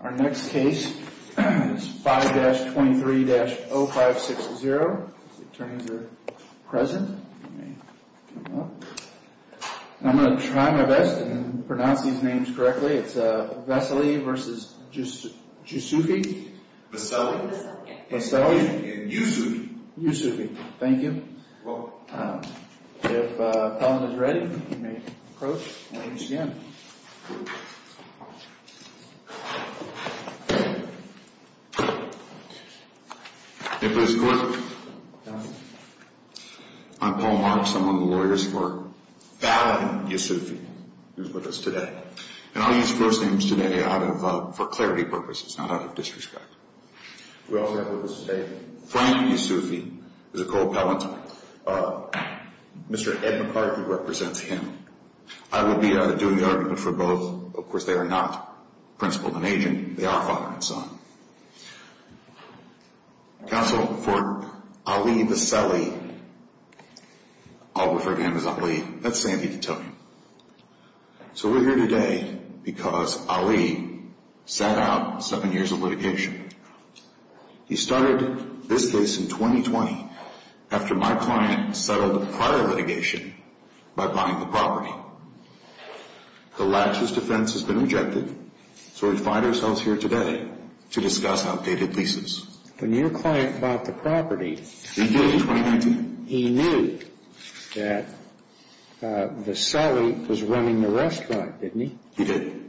Our next case is 5-23-0560, if the attorneys are present, you may come up. I'm going to try my best and pronounce these names correctly. It's Veseli v. Jusufi. Veseli. Veseli. And Jusufi. Jusufi, thank you. If the appellant is ready, you may approach and begin. If it is correct, I'm Paul Marks. I'm one of the lawyers for Valiant Jusufi, who's with us today. And I'll use first names today for clarity purposes, not out of disrespect. We all have a mistake. Frank Jusufi is a co-appellant. Mr. Ed McCarthy represents him. I will be doing the argument for both. Of course, they are not principal and agent. They are father and son. Counsel for Ali Veseli. I'll refer to him as Ali. That's the same thing to tell him. So we're here today because Ali sat out seven years of litigation. He started this case in 2020 after my client settled prior litigation by buying the property. The latches defense has been rejected, so we find ourselves here today to discuss outdated leases. When your client bought the property. He did in 2019. He knew that Veseli was running the restaurant, didn't he? He did.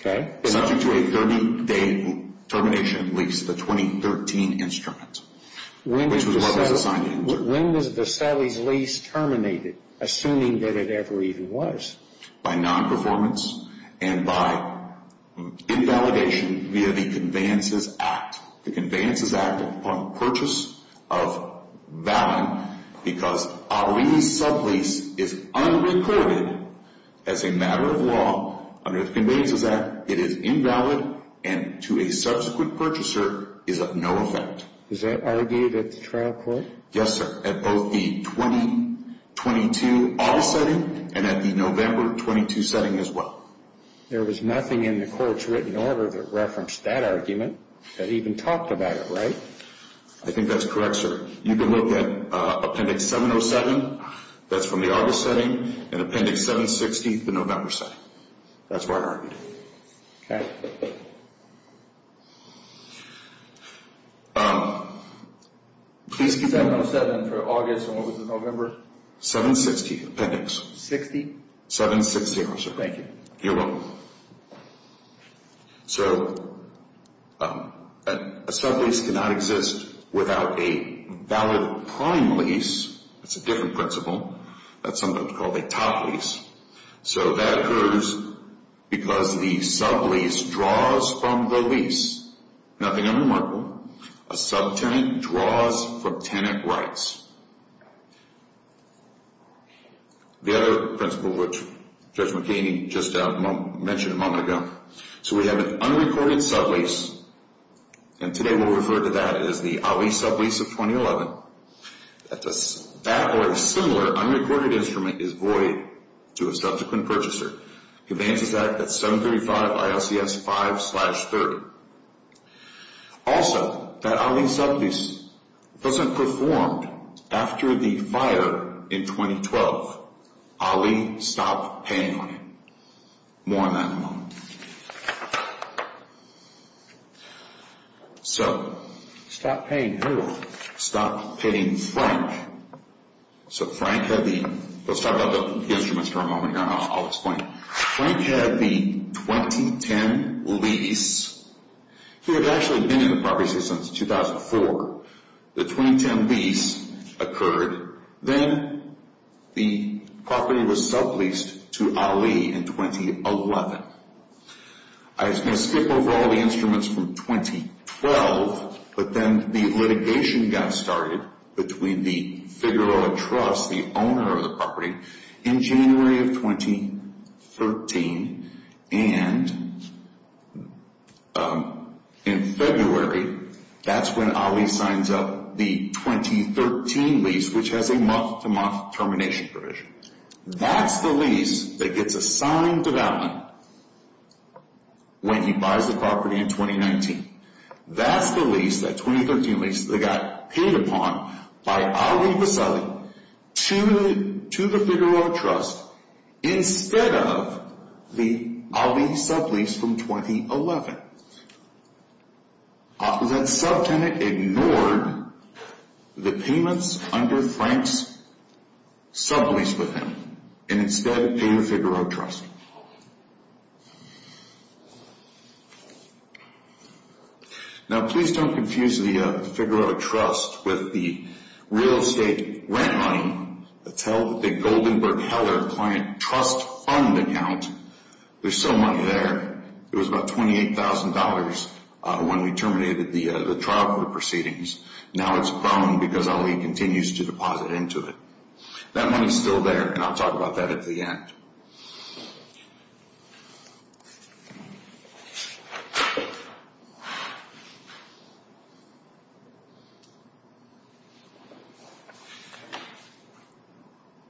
Okay. Subject to a 30-day termination lease, the 2013 instrument, which was what was assigned to him. When was Veseli's lease terminated, assuming that it ever even was? By non-performance and by invalidation via the Conveyances Act. The Conveyances Act upon purchase of Valin because Ali's sublease is unrecorded as a matter of law. Under the Conveyances Act, it is invalid and to a subsequent purchaser is of no effect. Is that argued at the trial court? Yes, sir. At both the 2022 August setting and at the November 22 setting as well. There was nothing in the court's written order that referenced that argument that even talked about it, right? I think that's correct, sir. You can look at Appendix 707. That's from the August setting and Appendix 760, the November setting. That's what I argued. Okay. Please keep that 707 for August and what was the November? 760, Appendix. 60? 760, sir. Thank you. You're welcome. So a sublease cannot exist without a valid prime lease. It's a different principle. That's sometimes called a top lease. So that occurs because the sublease draws from the lease. Nothing unremarkable. A subtenant draws from tenant rights. The other principle, which Judge McKinney just mentioned a moment ago, so we have an unrecorded sublease, and today we'll refer to that as the out-lease sublease of 2011. That or a similar unrecorded instrument is void to a subsequent purchaser. It advances that at 735 ILCS 5-30. Also, that out-lease sublease wasn't performed after the fire in 2012. Ali stopped paying on it. More on that in a moment. So. Stopped paying who? Stopped paying Frank. So Frank had the – let's talk about the instruments for a moment here and I'll explain. Frank had the 2010 lease. He had actually been in the property since 2004. The 2010 lease occurred. Then the property was subleased to Ali in 2011. I'm going to skip over all the instruments from 2012, but then the litigation got started between the Figueroa Trust, the owner of the property, in January of 2013. And in February, that's when Ali signs up the 2013 lease, which has a month-to-month termination provision. That's the lease that gets assigned development when he buys the property in 2019. That's the lease, that 2013 lease, that got paid upon by Ali Vaseli to the Figueroa Trust instead of the Ali sublease from 2011. That subtenant ignored the payments under Frank's sublease with him and instead paid the Figueroa Trust. Now, please don't confuse the Figueroa Trust with the real estate rent money. That's the Goldenberg Heller client trust fund account. There's some money there. It was about $28,000 when we terminated the trial court proceedings. Now it's gone because Ali continues to deposit into it. That money's still there, and I'll talk about that at the end.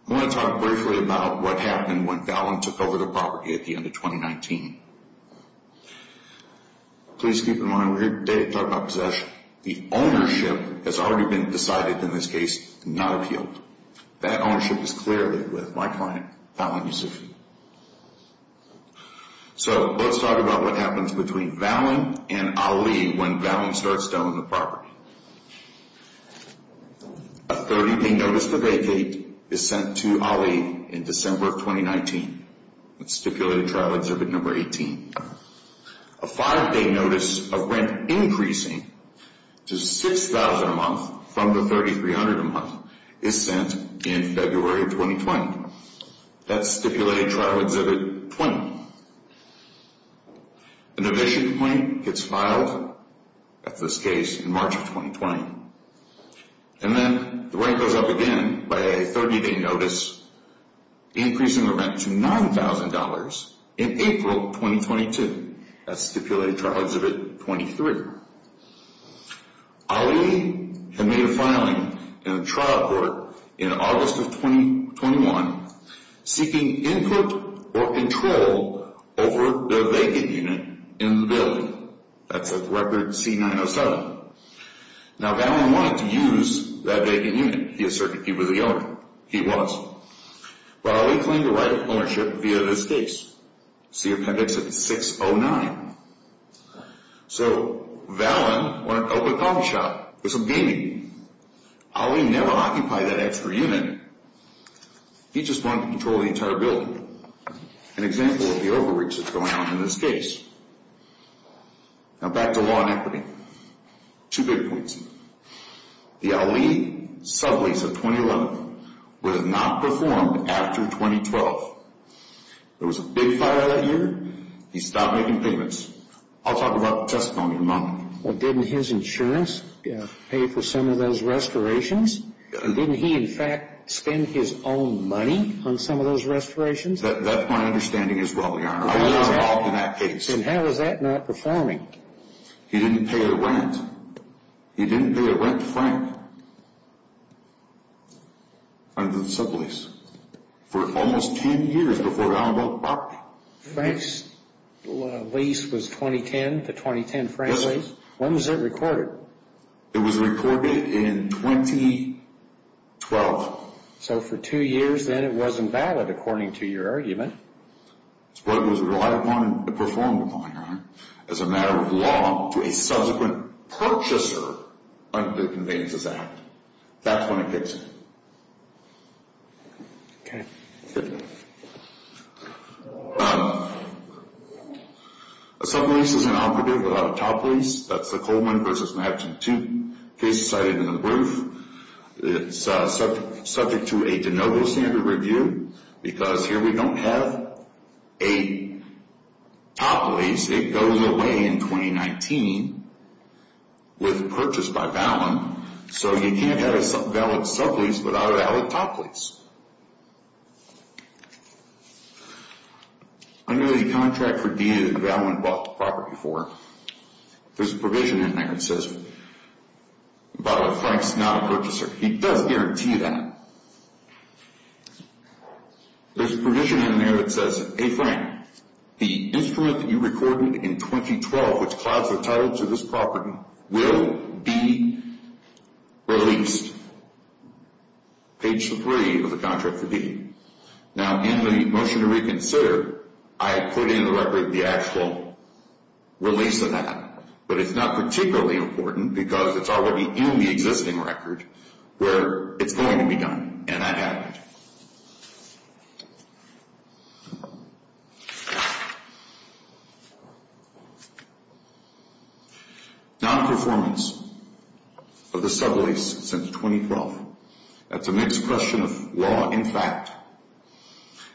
I want to talk briefly about what happened when Fallon took over the property at the end of 2019. Please keep in mind, we're here today to talk about possession. The ownership has already been decided in this case and not appealed. That ownership is clearly with my client, Fallon Yusufi. So let's talk about what happens between Fallon and Ali when Fallon starts to own the property. A 30-day notice to vacate is sent to Ali in December of 2019. That's stipulated trial exhibit number 18. A five-day notice of rent increasing to $6,000 a month from the $3,300 a month is sent in February of 2020. That's stipulated trial exhibit 20. An evasion complaint gets filed at this case in March of 2020. And then the rent goes up again by a 30-day notice, increasing the rent to $9,000 in April of 2022. That's stipulated trial exhibit 23. Ali had made a filing in the trial court in August of 2021, seeking input or control over the vacant unit in the building. That's at record C-907. Now, Fallon wanted to use that vacant unit. He asserted he was the owner. He was. But Ali claimed the right of ownership via this case. See appendix 609. So Fallon wanted to open a coffee shop for some gaming. Ali never occupied that extra unit. He just wanted control of the entire building. An example of the overreach that's going on in this case. Now back to law and equity. Two big points. The Ali sublease of 2011 would have not performed after 2012. There was a big fire that year. He stopped making payments. I'll talk about the testimony in a moment. Well, didn't his insurance pay for some of those restorations? Didn't he, in fact, spend his own money on some of those restorations? That's my understanding as well, Your Honor. I was involved in that case. Then how is that not performing? He didn't pay the rent. He didn't pay the rent to Frank under the sublease for almost 10 years before Fallon bought the property. Frank's lease was 2010, the 2010 Frank lease. When was it recorded? It was recorded in 2012. So for two years then it wasn't valid according to your argument. It was relied upon and performed upon, Your Honor, as a matter of law to a subsequent purchaser under the Conveyances Act. That's when it gets in. Okay. A sublease is an operative without a top lease. That's the Coleman v. Madison case cited in the brief. It's subject to a de novo standard review because here we don't have a top lease. It goes away in 2019 with a purchase by Fallon. So he can't have a valid sublease without a valid top lease. Under the contract for deed and eval when bought the property for, there's a provision in there that says, by the way, Frank's not a purchaser. He does guarantee that. There's a provision in there that says, Hey, Frank, the instrument that you recorded in 2012, which clouds the title to this property, will be released. Page three of the contract for deed. Now, in the motion to reconsider, I put in the record the actual release of that, but it's not particularly important because it's already in the existing record where it's going to be done, and that happened. Non-performance of the sublease since 2012. That's a mixed question of law and fact,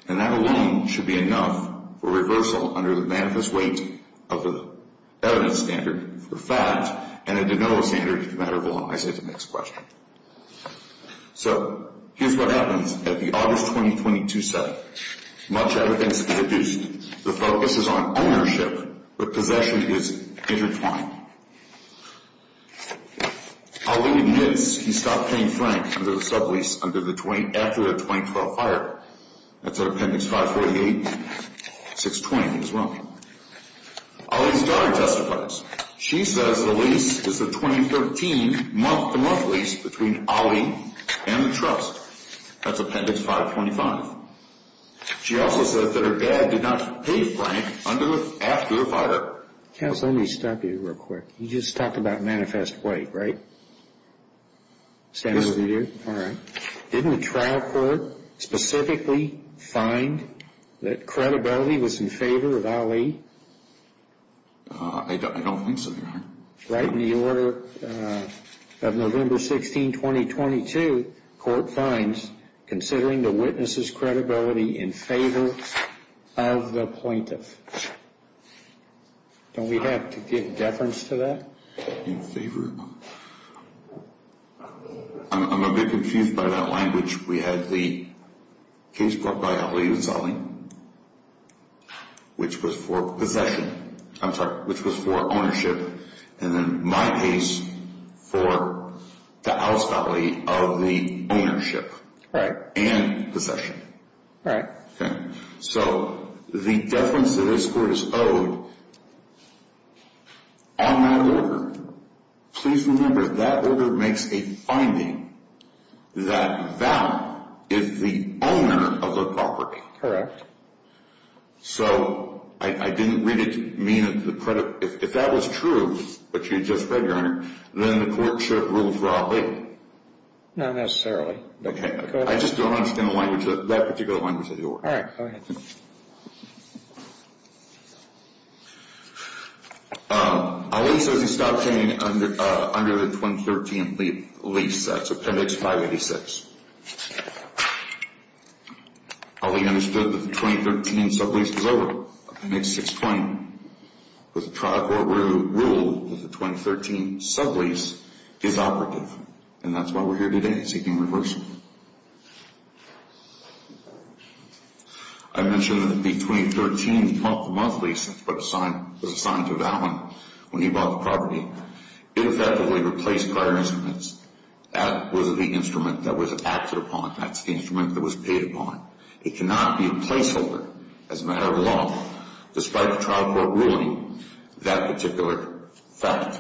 and that alone should be enough for reversal under the manifest weight of the evidence standard for fact and a de novo standard for the matter of law. I say it's a mixed question. So here's what happens. 2022 said much evidence. The focus is on ownership. The possession is intertwined. He stopped paying Frank under the sublease under the 20, after the 2012 fire. That's an appendix 548 620 as well. All these guys testifies. She says the lease is a 2013 month, the month least between Ali and the truck. That's appendix 525. She also says that her dad did not pay Frank under after the fire. Let me stop you real quick. You just talked about manifest weight, right? All right. Didn't the trial court specifically find that credibility was in favor of Ali? I don't think so. Right in the order of November 16, 2022, court finds considering the witnesses credibility in favor of the plaintiff. Don't we have to give deference to that? In favor. I'm a bit confused by that language. We had the case brought by Ali and Sally, which was for possession. I'm sorry, which was for ownership. And then my case for the outstanding of the ownership. Right. And possession. Right. Okay. So the deference to this court is owed on that order. Please remember that order makes a finding that Val is the owner of the property. Correct. So I didn't really mean it. If that was true, but you just read your honor, then the court should rule for Ali. Not necessarily. I just don't understand the language of that particular language. All right. Go ahead. Ali says he stopped paying under the 2013 lease. That's appendix 586. Ali understood that the 2013 sublease was over, appendix 620. But the trial court ruled that the 2013 sublease is operative. And that's why we're here today, seeking reversal. I mentioned that between 2013 and the month of the month lease, which was assigned to Val when he bought the property, it effectively replaced prior instruments. That was the instrument that was acted upon. That's the instrument that was paid upon. It cannot be a placeholder as a matter of law, despite the trial court ruling that particular fact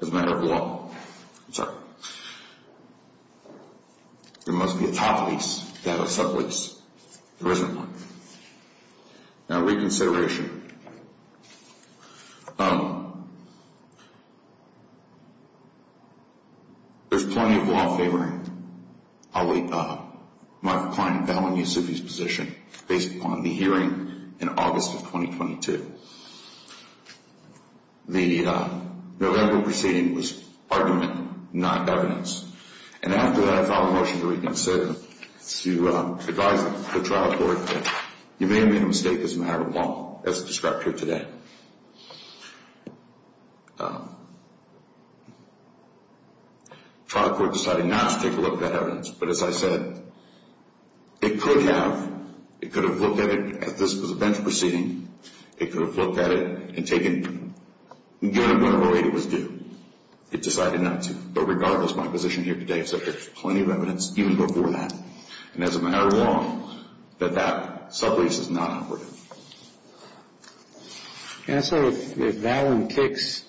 as a matter of law. I'm sorry. There must be a top lease to have a sublease. There isn't one. Now, reconsideration. There's plenty of law favoring Ali, Mark Klein, Val, and Yusufi's position based upon the hearing in August of 2022. The November proceeding was argument, not evidence. And after that, I filed a motion to reconsider to advise the trial court that you may have made a mistake as a matter of law, as described here today. The trial court decided not to take a look at that evidence. But as I said, it could have. It could have looked at it as this was a bench proceeding. It could have looked at it and taken it, given whenever it was due. It decided not to. But regardless, my position here today is that there's plenty of evidence even before that. And as a matter of law, that that sublease is not operative. And so if Valen kicks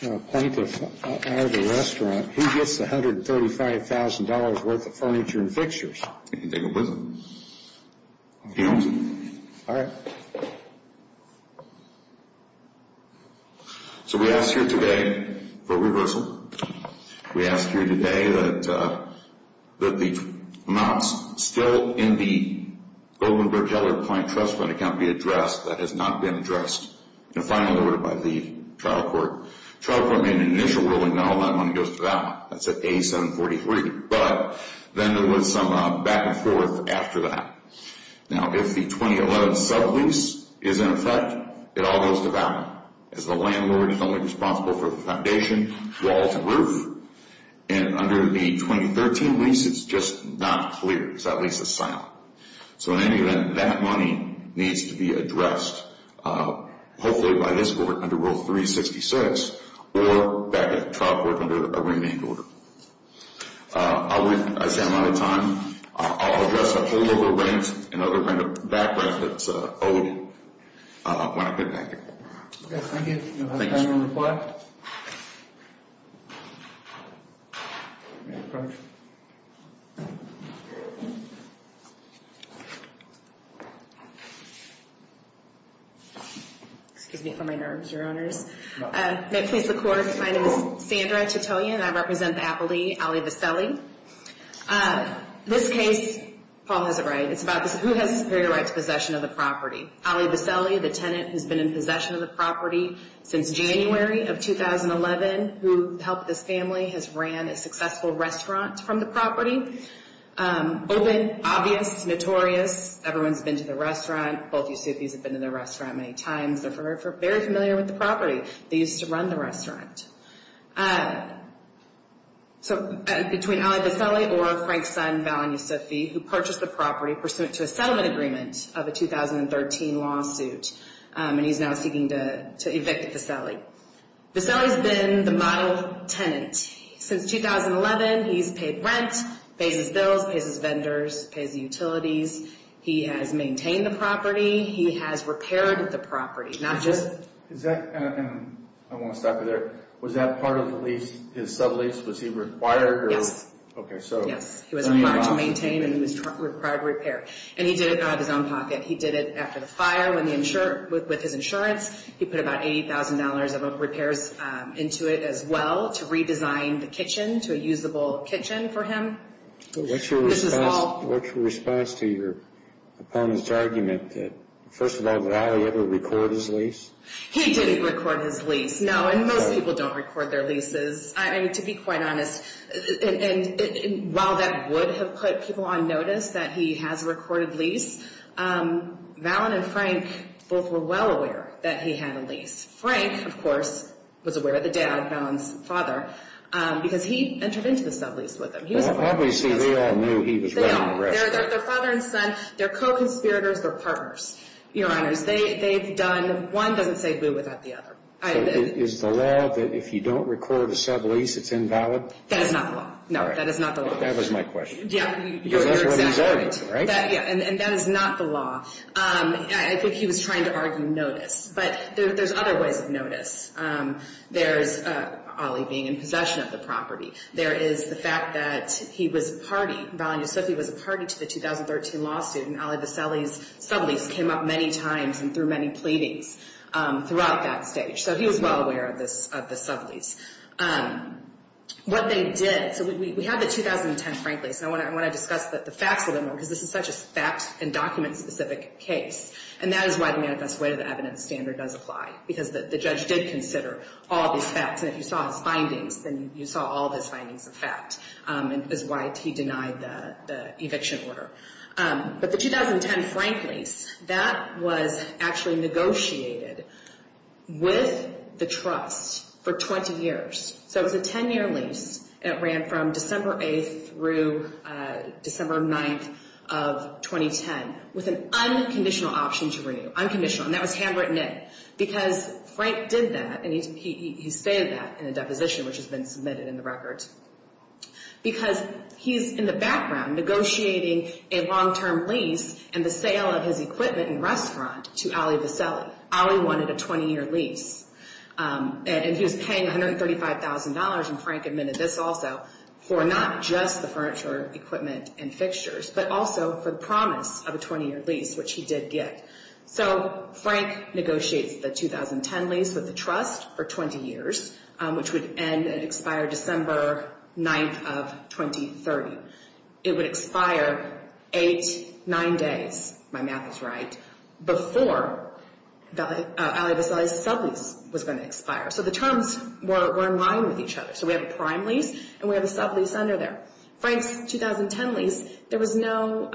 a plaintiff out of the restaurant, he gets $135,000 worth of furniture and fixtures. He can take them with him. He owns them. All right. So we ask here today for reversal. We ask here today that the amounts still in the Goldenberg-Heller Plaint Trust Fund account be addressed. That has not been addressed. And finally ordered by the trial court. Trial court made an initial ruling not all that money goes to Valen. That's at A743. But then there was some back and forth after that. Now, if the 2011 sublease is in effect, it all goes to Valen, as the landlord is only responsible for the foundation, walls, and roof. And under the 2013 lease, it's just not clear. The sublease is silent. So in any event, that money needs to be addressed, hopefully by this court under Rule 366, or back at the trial court under a remaining order. I see I'm out of time. I'll address a whole other range and other kind of background that's owed when I get back here. Okay, thank you. Do you have a final reply? Excuse me for my nerves, Your Honors. No. My name is Sandra Titoya, and I represent the appellee, Ali Viseli. This case, Paul has it right, it's about who has a superior right to possession of the property. Ali Viseli, the tenant who's been in possession of the property since January of 2011, who helped this family, has ran a successful restaurant from the property. Open, obvious, notorious. Everyone's been to the restaurant. Both Yusufis have been to the restaurant many times. They're very familiar with the property. They used to run the restaurant. So between Ali Viseli or Frank's son, Val and Yusufi, who purchased the property pursuant to a settlement agreement of a 2013 lawsuit, and he's now seeking to evict Viseli. Viseli's been the model tenant since 2011. He's paid rent, pays his bills, pays his vendors, pays the utilities. He has maintained the property. He has repaired the property, not just. Is that, I want to stop you there. Was that part of the lease, his sublease? Was he required? Yes. Okay, so. Yes, he was required to maintain and he was required to repair. And he did it out of his own pocket. He did it after the fire with his insurance. He put about $80,000 of repairs into it as well to redesign the kitchen to a usable kitchen for him. What's your response to your opponent's argument that, first of all, did Ali ever record his lease? He didn't record his lease, no. And most people don't record their leases. I mean, to be quite honest, while that would have put people on notice that he has a recorded lease, Val and Frank both were well aware that he had a lease. Frank, of course, was aware of the doubt of Val's father because he entered into the sublease with him. Obviously, they all knew he was running the restaurant. They are. They're father and son. They're co-conspirators. They're partners. Your Honors, they've done. One doesn't say boo without the other. So is the law that if you don't record a sublease, it's invalid? That is not the law. No, that is not the law. That was my question. Yeah, you're exactly right. Because that's what he's arguing, right? Yeah, and that is not the law. I think he was trying to argue notice. But there's other ways of notice. There's Ali being in possession of the property. There is the fact that he was a party, Val and Yusuf, he was a party to the 2013 lawsuit. And Ali Vesely's sublease came up many times and through many pleadings throughout that stage. So he was well aware of the sublease. What they did, so we have the 2010 Frank lease. And I want to discuss the facts a little more because this is such a fact and document specific case. And that is why the manifest way to the evidence standard does apply because the judge did consider all these facts. And if you saw his findings, then you saw all of his findings of fact. And that's why he denied the eviction order. But the 2010 Frank lease, that was actually negotiated with the trust for 20 years. So it was a 10-year lease. And it ran from December 8th through December 9th of 2010 with an unconditional option to renew. Unconditional. And that was handwritten in. Because Frank did that and he stated that in a deposition which has been submitted in the record. Because he's in the background negotiating a long-term lease and the sale of his equipment and restaurant to Ali Vesely. Ali wanted a 20-year lease. And he was paying $135,000, and Frank admitted this also, for not just the furniture, equipment, and fixtures, but also for the promise of a 20-year lease, which he did get. So Frank negotiates the 2010 lease with the trust for 20 years, which would end and expire December 9th of 2030. It would expire eight, nine days, my math is right, before Ali Vesely's sublease was going to expire. So the terms were in line with each other. So we have a prime lease and we have a sublease under there. Frank's 2010 lease, there was no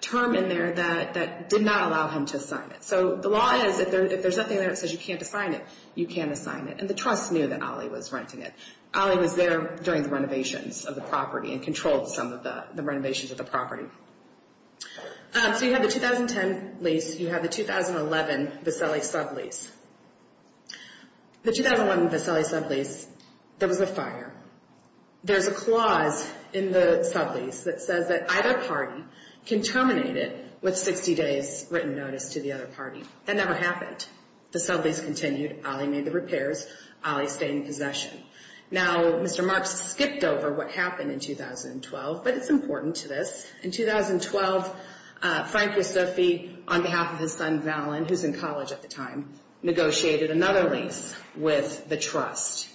term in there that did not allow him to sign it. So the law is if there's nothing there that says you can't assign it, you can assign it. And the trust knew that Ali was renting it. Ali was there during the renovations of the property and controlled some of the renovations of the property. So you have the 2010 lease. You have the 2011 Vesely sublease. The 2011 Vesely sublease, there was a fire. There's a clause in the sublease that says that either party can terminate it with 60 days written notice to the other party. That never happened. The sublease continued. Ali made the repairs. Ali stayed in possession. Now, Mr. Marks skipped over what happened in 2012, but it's important to this. In 2012, Frank Yusufi, on behalf of his son Valen, who's in college at the time, negotiated another lease with the trust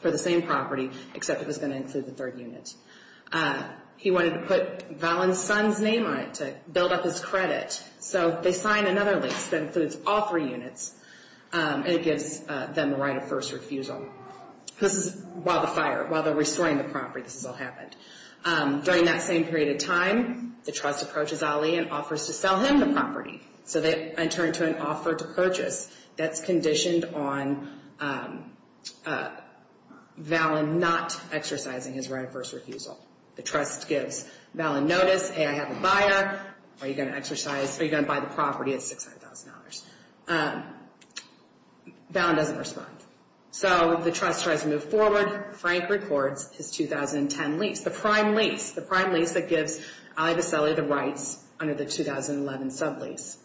for the same property, except it was going to include the third unit. He wanted to put Valen's son's name on it to build up his credit. So they signed another lease that includes all three units, and it gives them the right of first refusal. This is while the fire, while they're restoring the property, this is what happened. During that same period of time, the trust approaches Ali and offers to sell him the property. So they turn to an offer to purchase that's conditioned on Valen not exercising his right of first refusal. The trust gives Valen notice. Hey, I have a buyer. Are you going to exercise, are you going to buy the property at $600,000? Valen doesn't respond. So the trust tries to move forward. Frank records his 2010 lease, the prime lease, the prime lease that gives Ali Vaseli the rights under the 2011 sublease.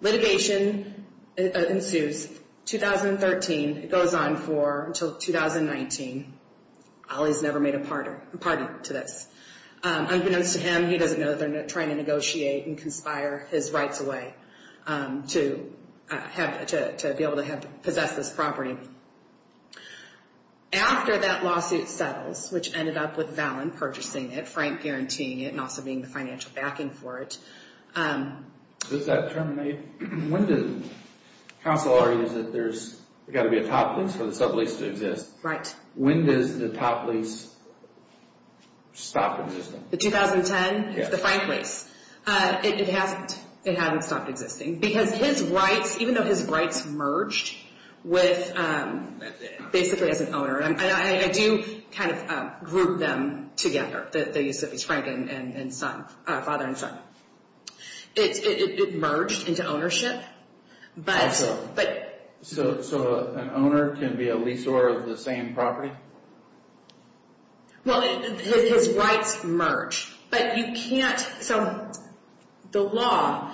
Litigation ensues. 2013, it goes on for until 2019. Ali's never made a pardon to this. Unbeknownst to him, he doesn't know they're trying to negotiate and conspire his rights away to be able to possess this property. After that lawsuit settles, which ended up with Valen purchasing it, Frank guaranteeing it and also being the financial backing for it. Does that terminate? When does counsel argue that there's got to be a top lease for the sublease to exist? Right. When does the top lease stop existing? The 2010? Yes. It's the Frank lease. It hasn't. It hasn't stopped existing. Because his rights, even though his rights merged with basically as an owner, and I do kind of group them together, the use of his father and son. It merged into ownership. So an owner can be a leaser of the same property? Well, his rights merge. So the law,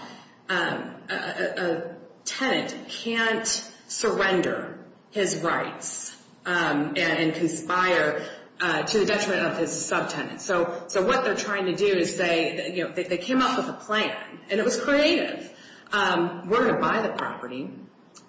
a tenant can't surrender his rights and conspire to the detriment of his subtenant. So what they're trying to do is they came up with a plan. And it was creative. We're going to buy the property.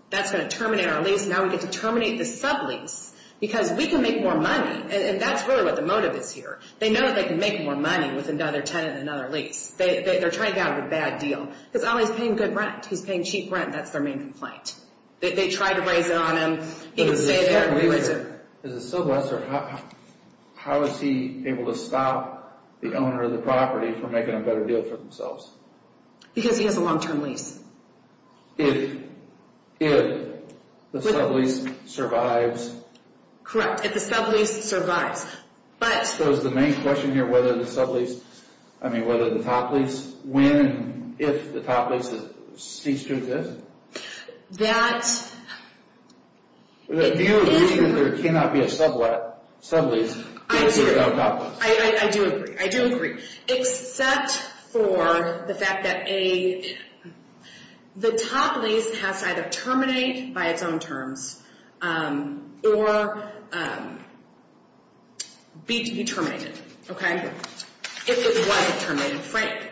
That's going to terminate our lease. Now we get to terminate the sublease because we can make more money. And that's really what the motive is here. They know that they can make more money with another tenant and another lease. They're trying to get out of a bad deal. Because Ollie's paying good rent. He's paying cheap rent. That's their main complaint. They try to raise it on him. He can stay there and lose it. As a subleaser, how is he able to stop the owner of the property from making a better deal for themselves? Because he has a long-term lease. If the sublease survives? Correct. If the sublease survives. So is the main question here whether the sublease, I mean, whether the top lease, when and if the top lease is ceased to exist? That... Do you agree that there cannot be a sublease if there's no top lease? I do agree. Except for the fact that the top lease has to either terminate by its own terms or be terminated. Okay? If it was terminated. Frank,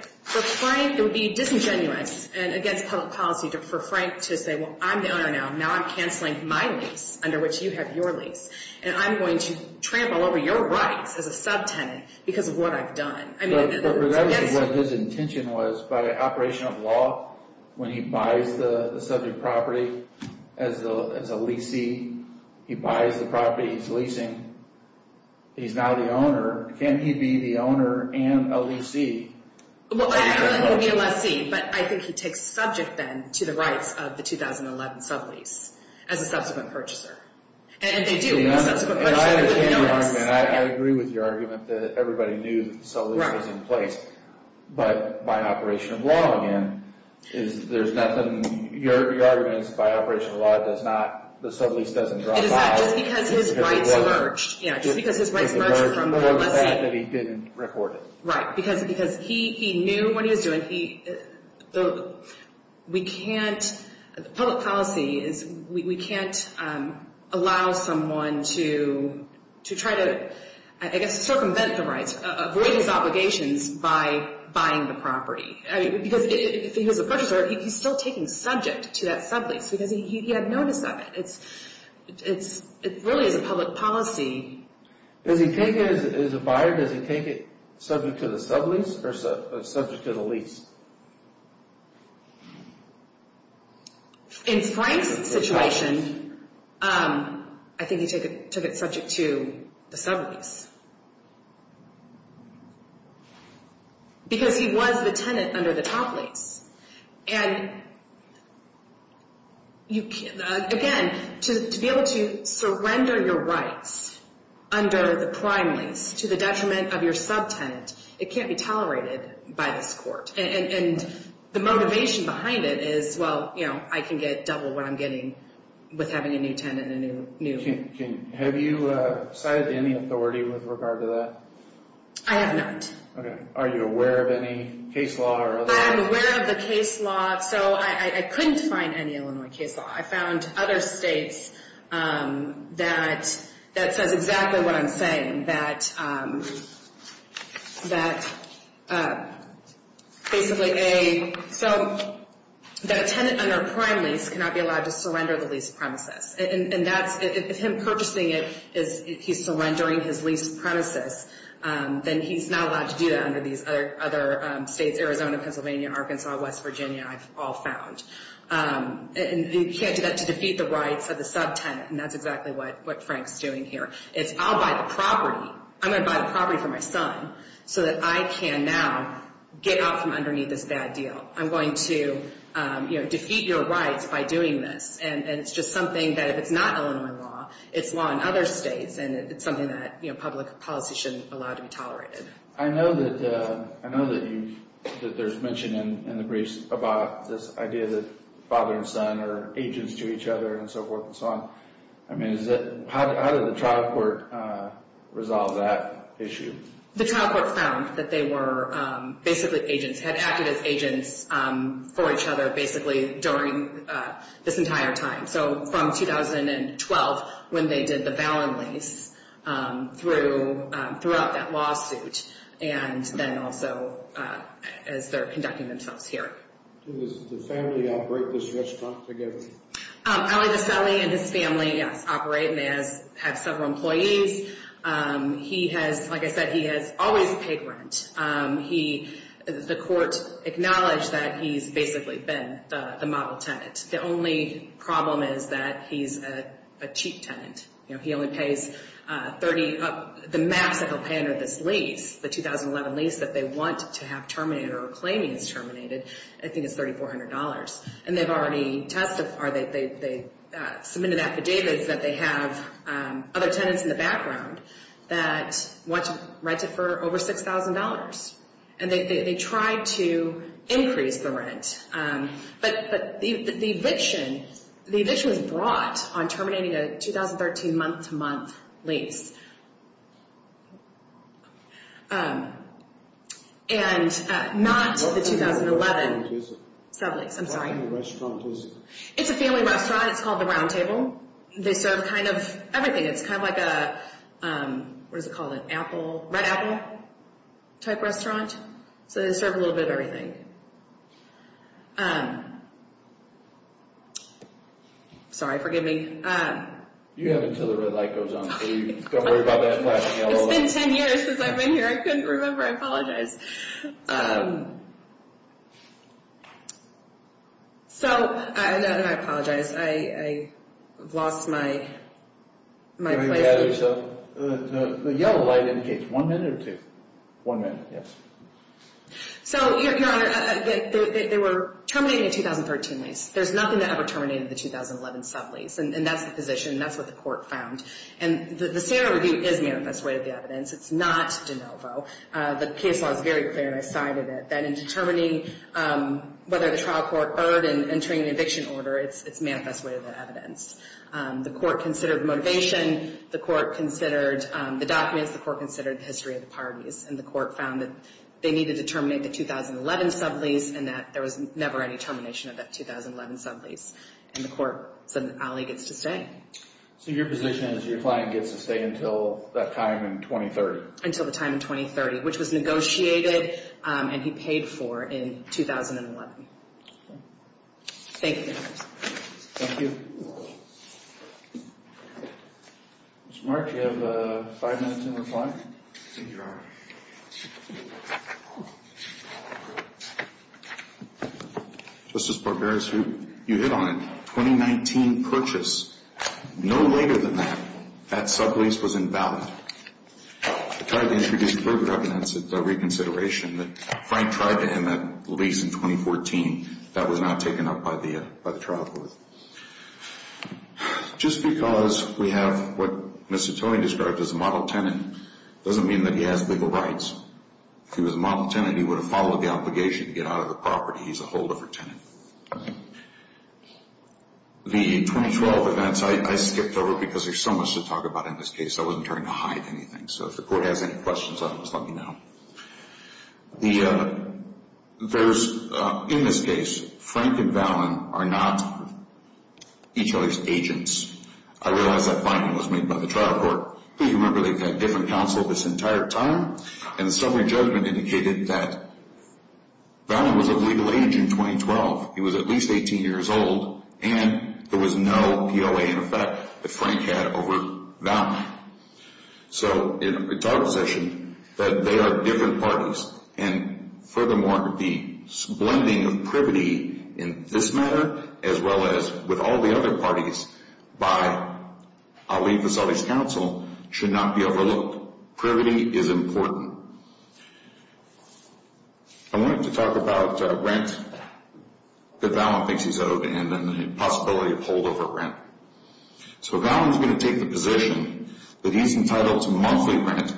it would be disingenuous and against public policy for Frank to say, Well, I'm the owner now. Now I'm canceling my lease under which you have your lease. And I'm going to trample over your rights as a subtenant because of what I've done. But remember what his intention was by operation of law when he buys the subject property as a leasee. He buys the property he's leasing. He's now the owner. Can't he be the owner and a leasee? Well, he can't be a lessee. But I think he takes subject then to the rights of the 2011 sublease as a subsequent purchaser. And they do. I agree with your argument that everybody knew the sublease was in place. But by operation of law, again, there's nothing. Your argument is by operation of law, the sublease doesn't drop off. It is that just because his rights merged. Yeah, just because his rights merged from being a lessee. More than the fact that he didn't record it. Right, because he knew what he was doing. The public policy is we can't allow someone to try to, I guess, circumvent the rights, avoid his obligations by buying the property. Because if he was a purchaser, he's still taking subject to that sublease because he had notice of it. It really is a public policy. As a buyer, does he take it subject to the sublease or subject to the lease? In Frank's situation, I think he took it subject to the sublease. Because he was the tenant under the top lease. And, again, to be able to surrender your rights under the prime lease to the detriment of your subtenant, it can't be tolerated by this court. And the motivation behind it is, well, I can get double what I'm getting with having a new tenant and a new lease. Have you cited any authority with regard to that? I have not. Are you aware of any case law or other? I'm aware of the case law. I couldn't find any Illinois case law. I found other states that says exactly what I'm saying. That a tenant under a prime lease cannot be allowed to surrender the lease premises. If him purchasing it, he's surrendering his lease premises, then he's not allowed to do that under these other states. Arizona, Pennsylvania, Arkansas, West Virginia, I've all found. And you can't do that to defeat the rights of the subtenant. And that's exactly what Frank's doing here. It's, I'll buy the property. I'm going to buy the property for my son so that I can now get out from underneath this bad deal. I'm going to defeat your rights by doing this. And it's just something that if it's not Illinois law, it's law in other states. And it's something that public policy shouldn't allow to be tolerated. I know that there's mention in the briefs about this idea that father and son are agents to each other and so forth and so on. I mean, how did the trial court resolve that issue? The trial court found that they were basically agents, had acted as agents for each other basically during this entire time. So from 2012, when they did the Valen lease, throughout that lawsuit, and then also as they're conducting themselves here. Does the family operate this restaurant together? Ali Vaseli and his family, yes, operate, and they have several employees. He has, like I said, he has always paid rent. He, the court acknowledged that he's basically been the model tenant. The only problem is that he's a cheap tenant. You know, he only pays 30, the max that he'll pay under this lease, the 2011 lease that they want to have terminated or are claiming is terminated, I think it's $3,400. And they've already testified, they submitted affidavits that they have other tenants in the background that want to rent it for over $6,000. And they tried to increase the rent. But the eviction, the eviction was brought on terminating a 2013 month-to-month lease. And not the 2011 lease, I'm sorry. What kind of restaurant is it? It's a family restaurant. It's called the Round Table. They serve kind of everything. It's kind of like a, what is it called, an apple, red apple type restaurant. So they serve a little bit of everything. Sorry, forgive me. You have until the red light goes on. Don't worry about that flashing yellow light. It's been 10 years since I've been here. I couldn't remember. I apologize. So, I apologize. I've lost my place. The yellow light indicates one minute or two. One minute, yes. So, Your Honor, they were terminating a 2013 lease. There's nothing that ever terminated the 2011 sub-lease. And that's the position. That's what the court found. And the CR review is manifest way of the evidence. It's not de novo. The case law is very clear, and I cited it, that in determining whether the trial court owed and entering an eviction order, it's manifest way of the evidence. The court considered motivation. The court considered the documents. The court considered the history of the parties. And the court found that they needed to terminate the 2011 sub-lease and that there was never any termination of that 2011 sub-lease. And the court said, Ali gets to stay. So, your position is your client gets to stay until that time in 2030? Until the time in 2030, which was negotiated and he paid for in 2011. Thank you, Your Honor. Thank you. Mr. Mark, do you have five minutes in reply? Thank you, Your Honor. Justice Barbera, you hit on it. The 2019 purchase, no later than that, that sub-lease was invalid. I tried to introduce further evidence at reconsideration that Frank tried to end that lease in 2014. That was not taken up by the trial court. Just because we have what Mr. Tony described as a model tenant doesn't mean that he has legal rights. If he was a model tenant, he would have followed the obligation to get out of the property. He's a holdover tenant. The 2012 events, I skipped over because there's so much to talk about in this case. I wasn't trying to hide anything. So, if the court has any questions on this, let me know. In this case, Frank and Valen are not each other's agents. I realize that finding was made by the trial court. If you remember, they've had different counsel this entire time. And the summary judgment indicated that Valen was of legal age in 2012. He was at least 18 years old. And there was no POA in effect that Frank had over Valen. So, it's our position that they are different parties. And furthermore, the blending of privity in this matter, as well as with all the other parties by Ali Vassalli's counsel, should not be overlooked. Privity is important. I wanted to talk about rent that Valen thinks he's owed and then the possibility of holdover rent. So, Valen's going to take the position that he's entitled to monthly rent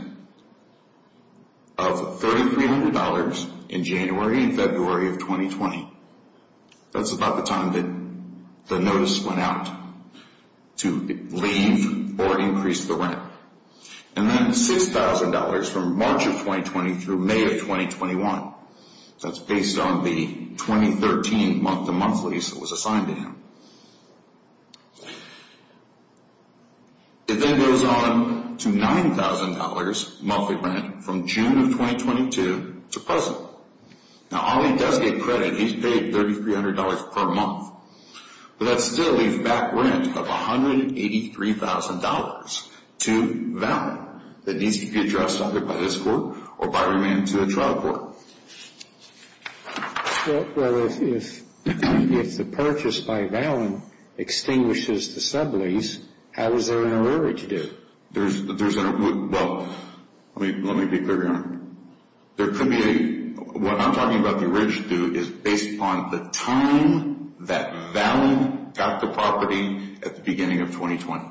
of $3,300 in January and February of 2020. That's about the time that the notice went out to leave or increase the rent. And then $6,000 from March of 2020 through May of 2021. That's based on the 2013 month-to-month lease that was assigned to him. It then goes on to $9,000 monthly rent from June of 2022 to present. Now, Ali does get credit. He's paid $3,300 per month. But that still leaves back rent of $183,000 to Valen that needs to be addressed either by this court or by remand to the trial court. Well, if the purchase by Valen extinguishes the sublease, how is there an origin due? There's an, well, let me be clear here. There could be a, what I'm talking about the origin due is based upon the time that Valen got the property at the beginning of 2020.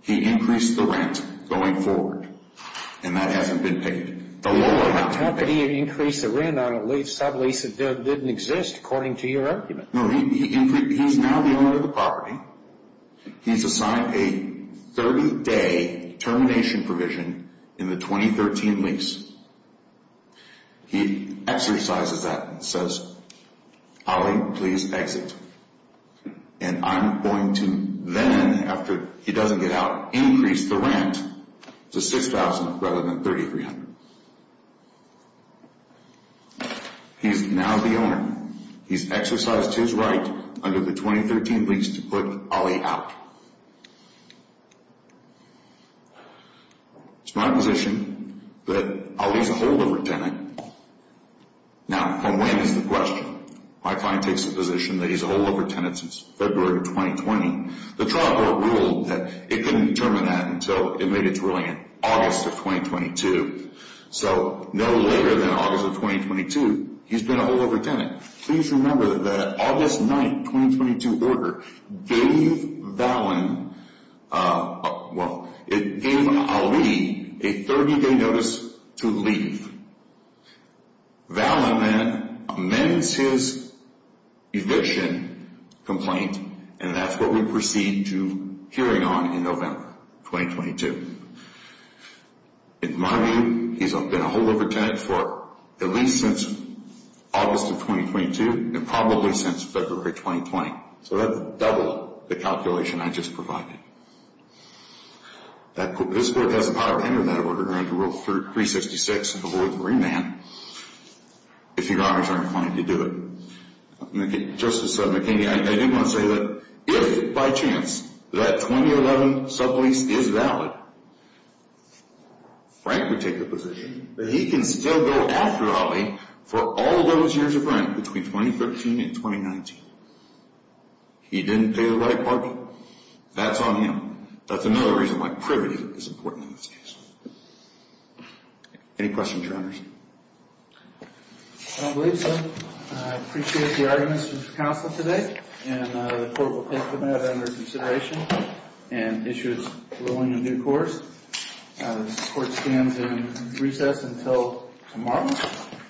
He increased the rent going forward. And that hasn't been paid. No, he's now the owner of the property. He's assigned a 30-day termination provision in the 2013 lease. He exercises that and says, Ali, please exit. And I'm going to then, after he doesn't get out, increase the rent to $6,000 rather than $3,300. He's now the owner. He's exercised his right under the 2013 lease to put Ali out. It's my position that Ali's a holdover tenant. Now, when is the question? My client takes the position that he's a holdover tenant since February of 2020. The trial court ruled that it couldn't determine that until it made its ruling in August of 2022. So no later than August of 2022, he's been a holdover tenant. Please remember that the August 9, 2022 order gave Valen, well, it gave Ali a 30-day notice to leave. Valen then amends his eviction complaint, and that's what we proceed to hearing on in November 2022. In my view, he's been a holdover tenant for at least since August of 2022 and probably since February of 2020. So that's double the calculation I just provided. This court has a power to enter that order under Rule 366 to avoid remand if your owners aren't inclined to do it. Justice McKinney, I do want to say that if by chance that 2011 sublease is valid, Frank would take the position that he can still go after Ali for all those years of rent between 2013 and 2019. He didn't pay the right parking. That's on him. That's another reason why privity is important in this case. Any questions or comments? I don't believe so. I appreciate the arguments from the counsel today, and the court will take them out under consideration and issue its ruling in due course. This court stands in recess until tomorrow.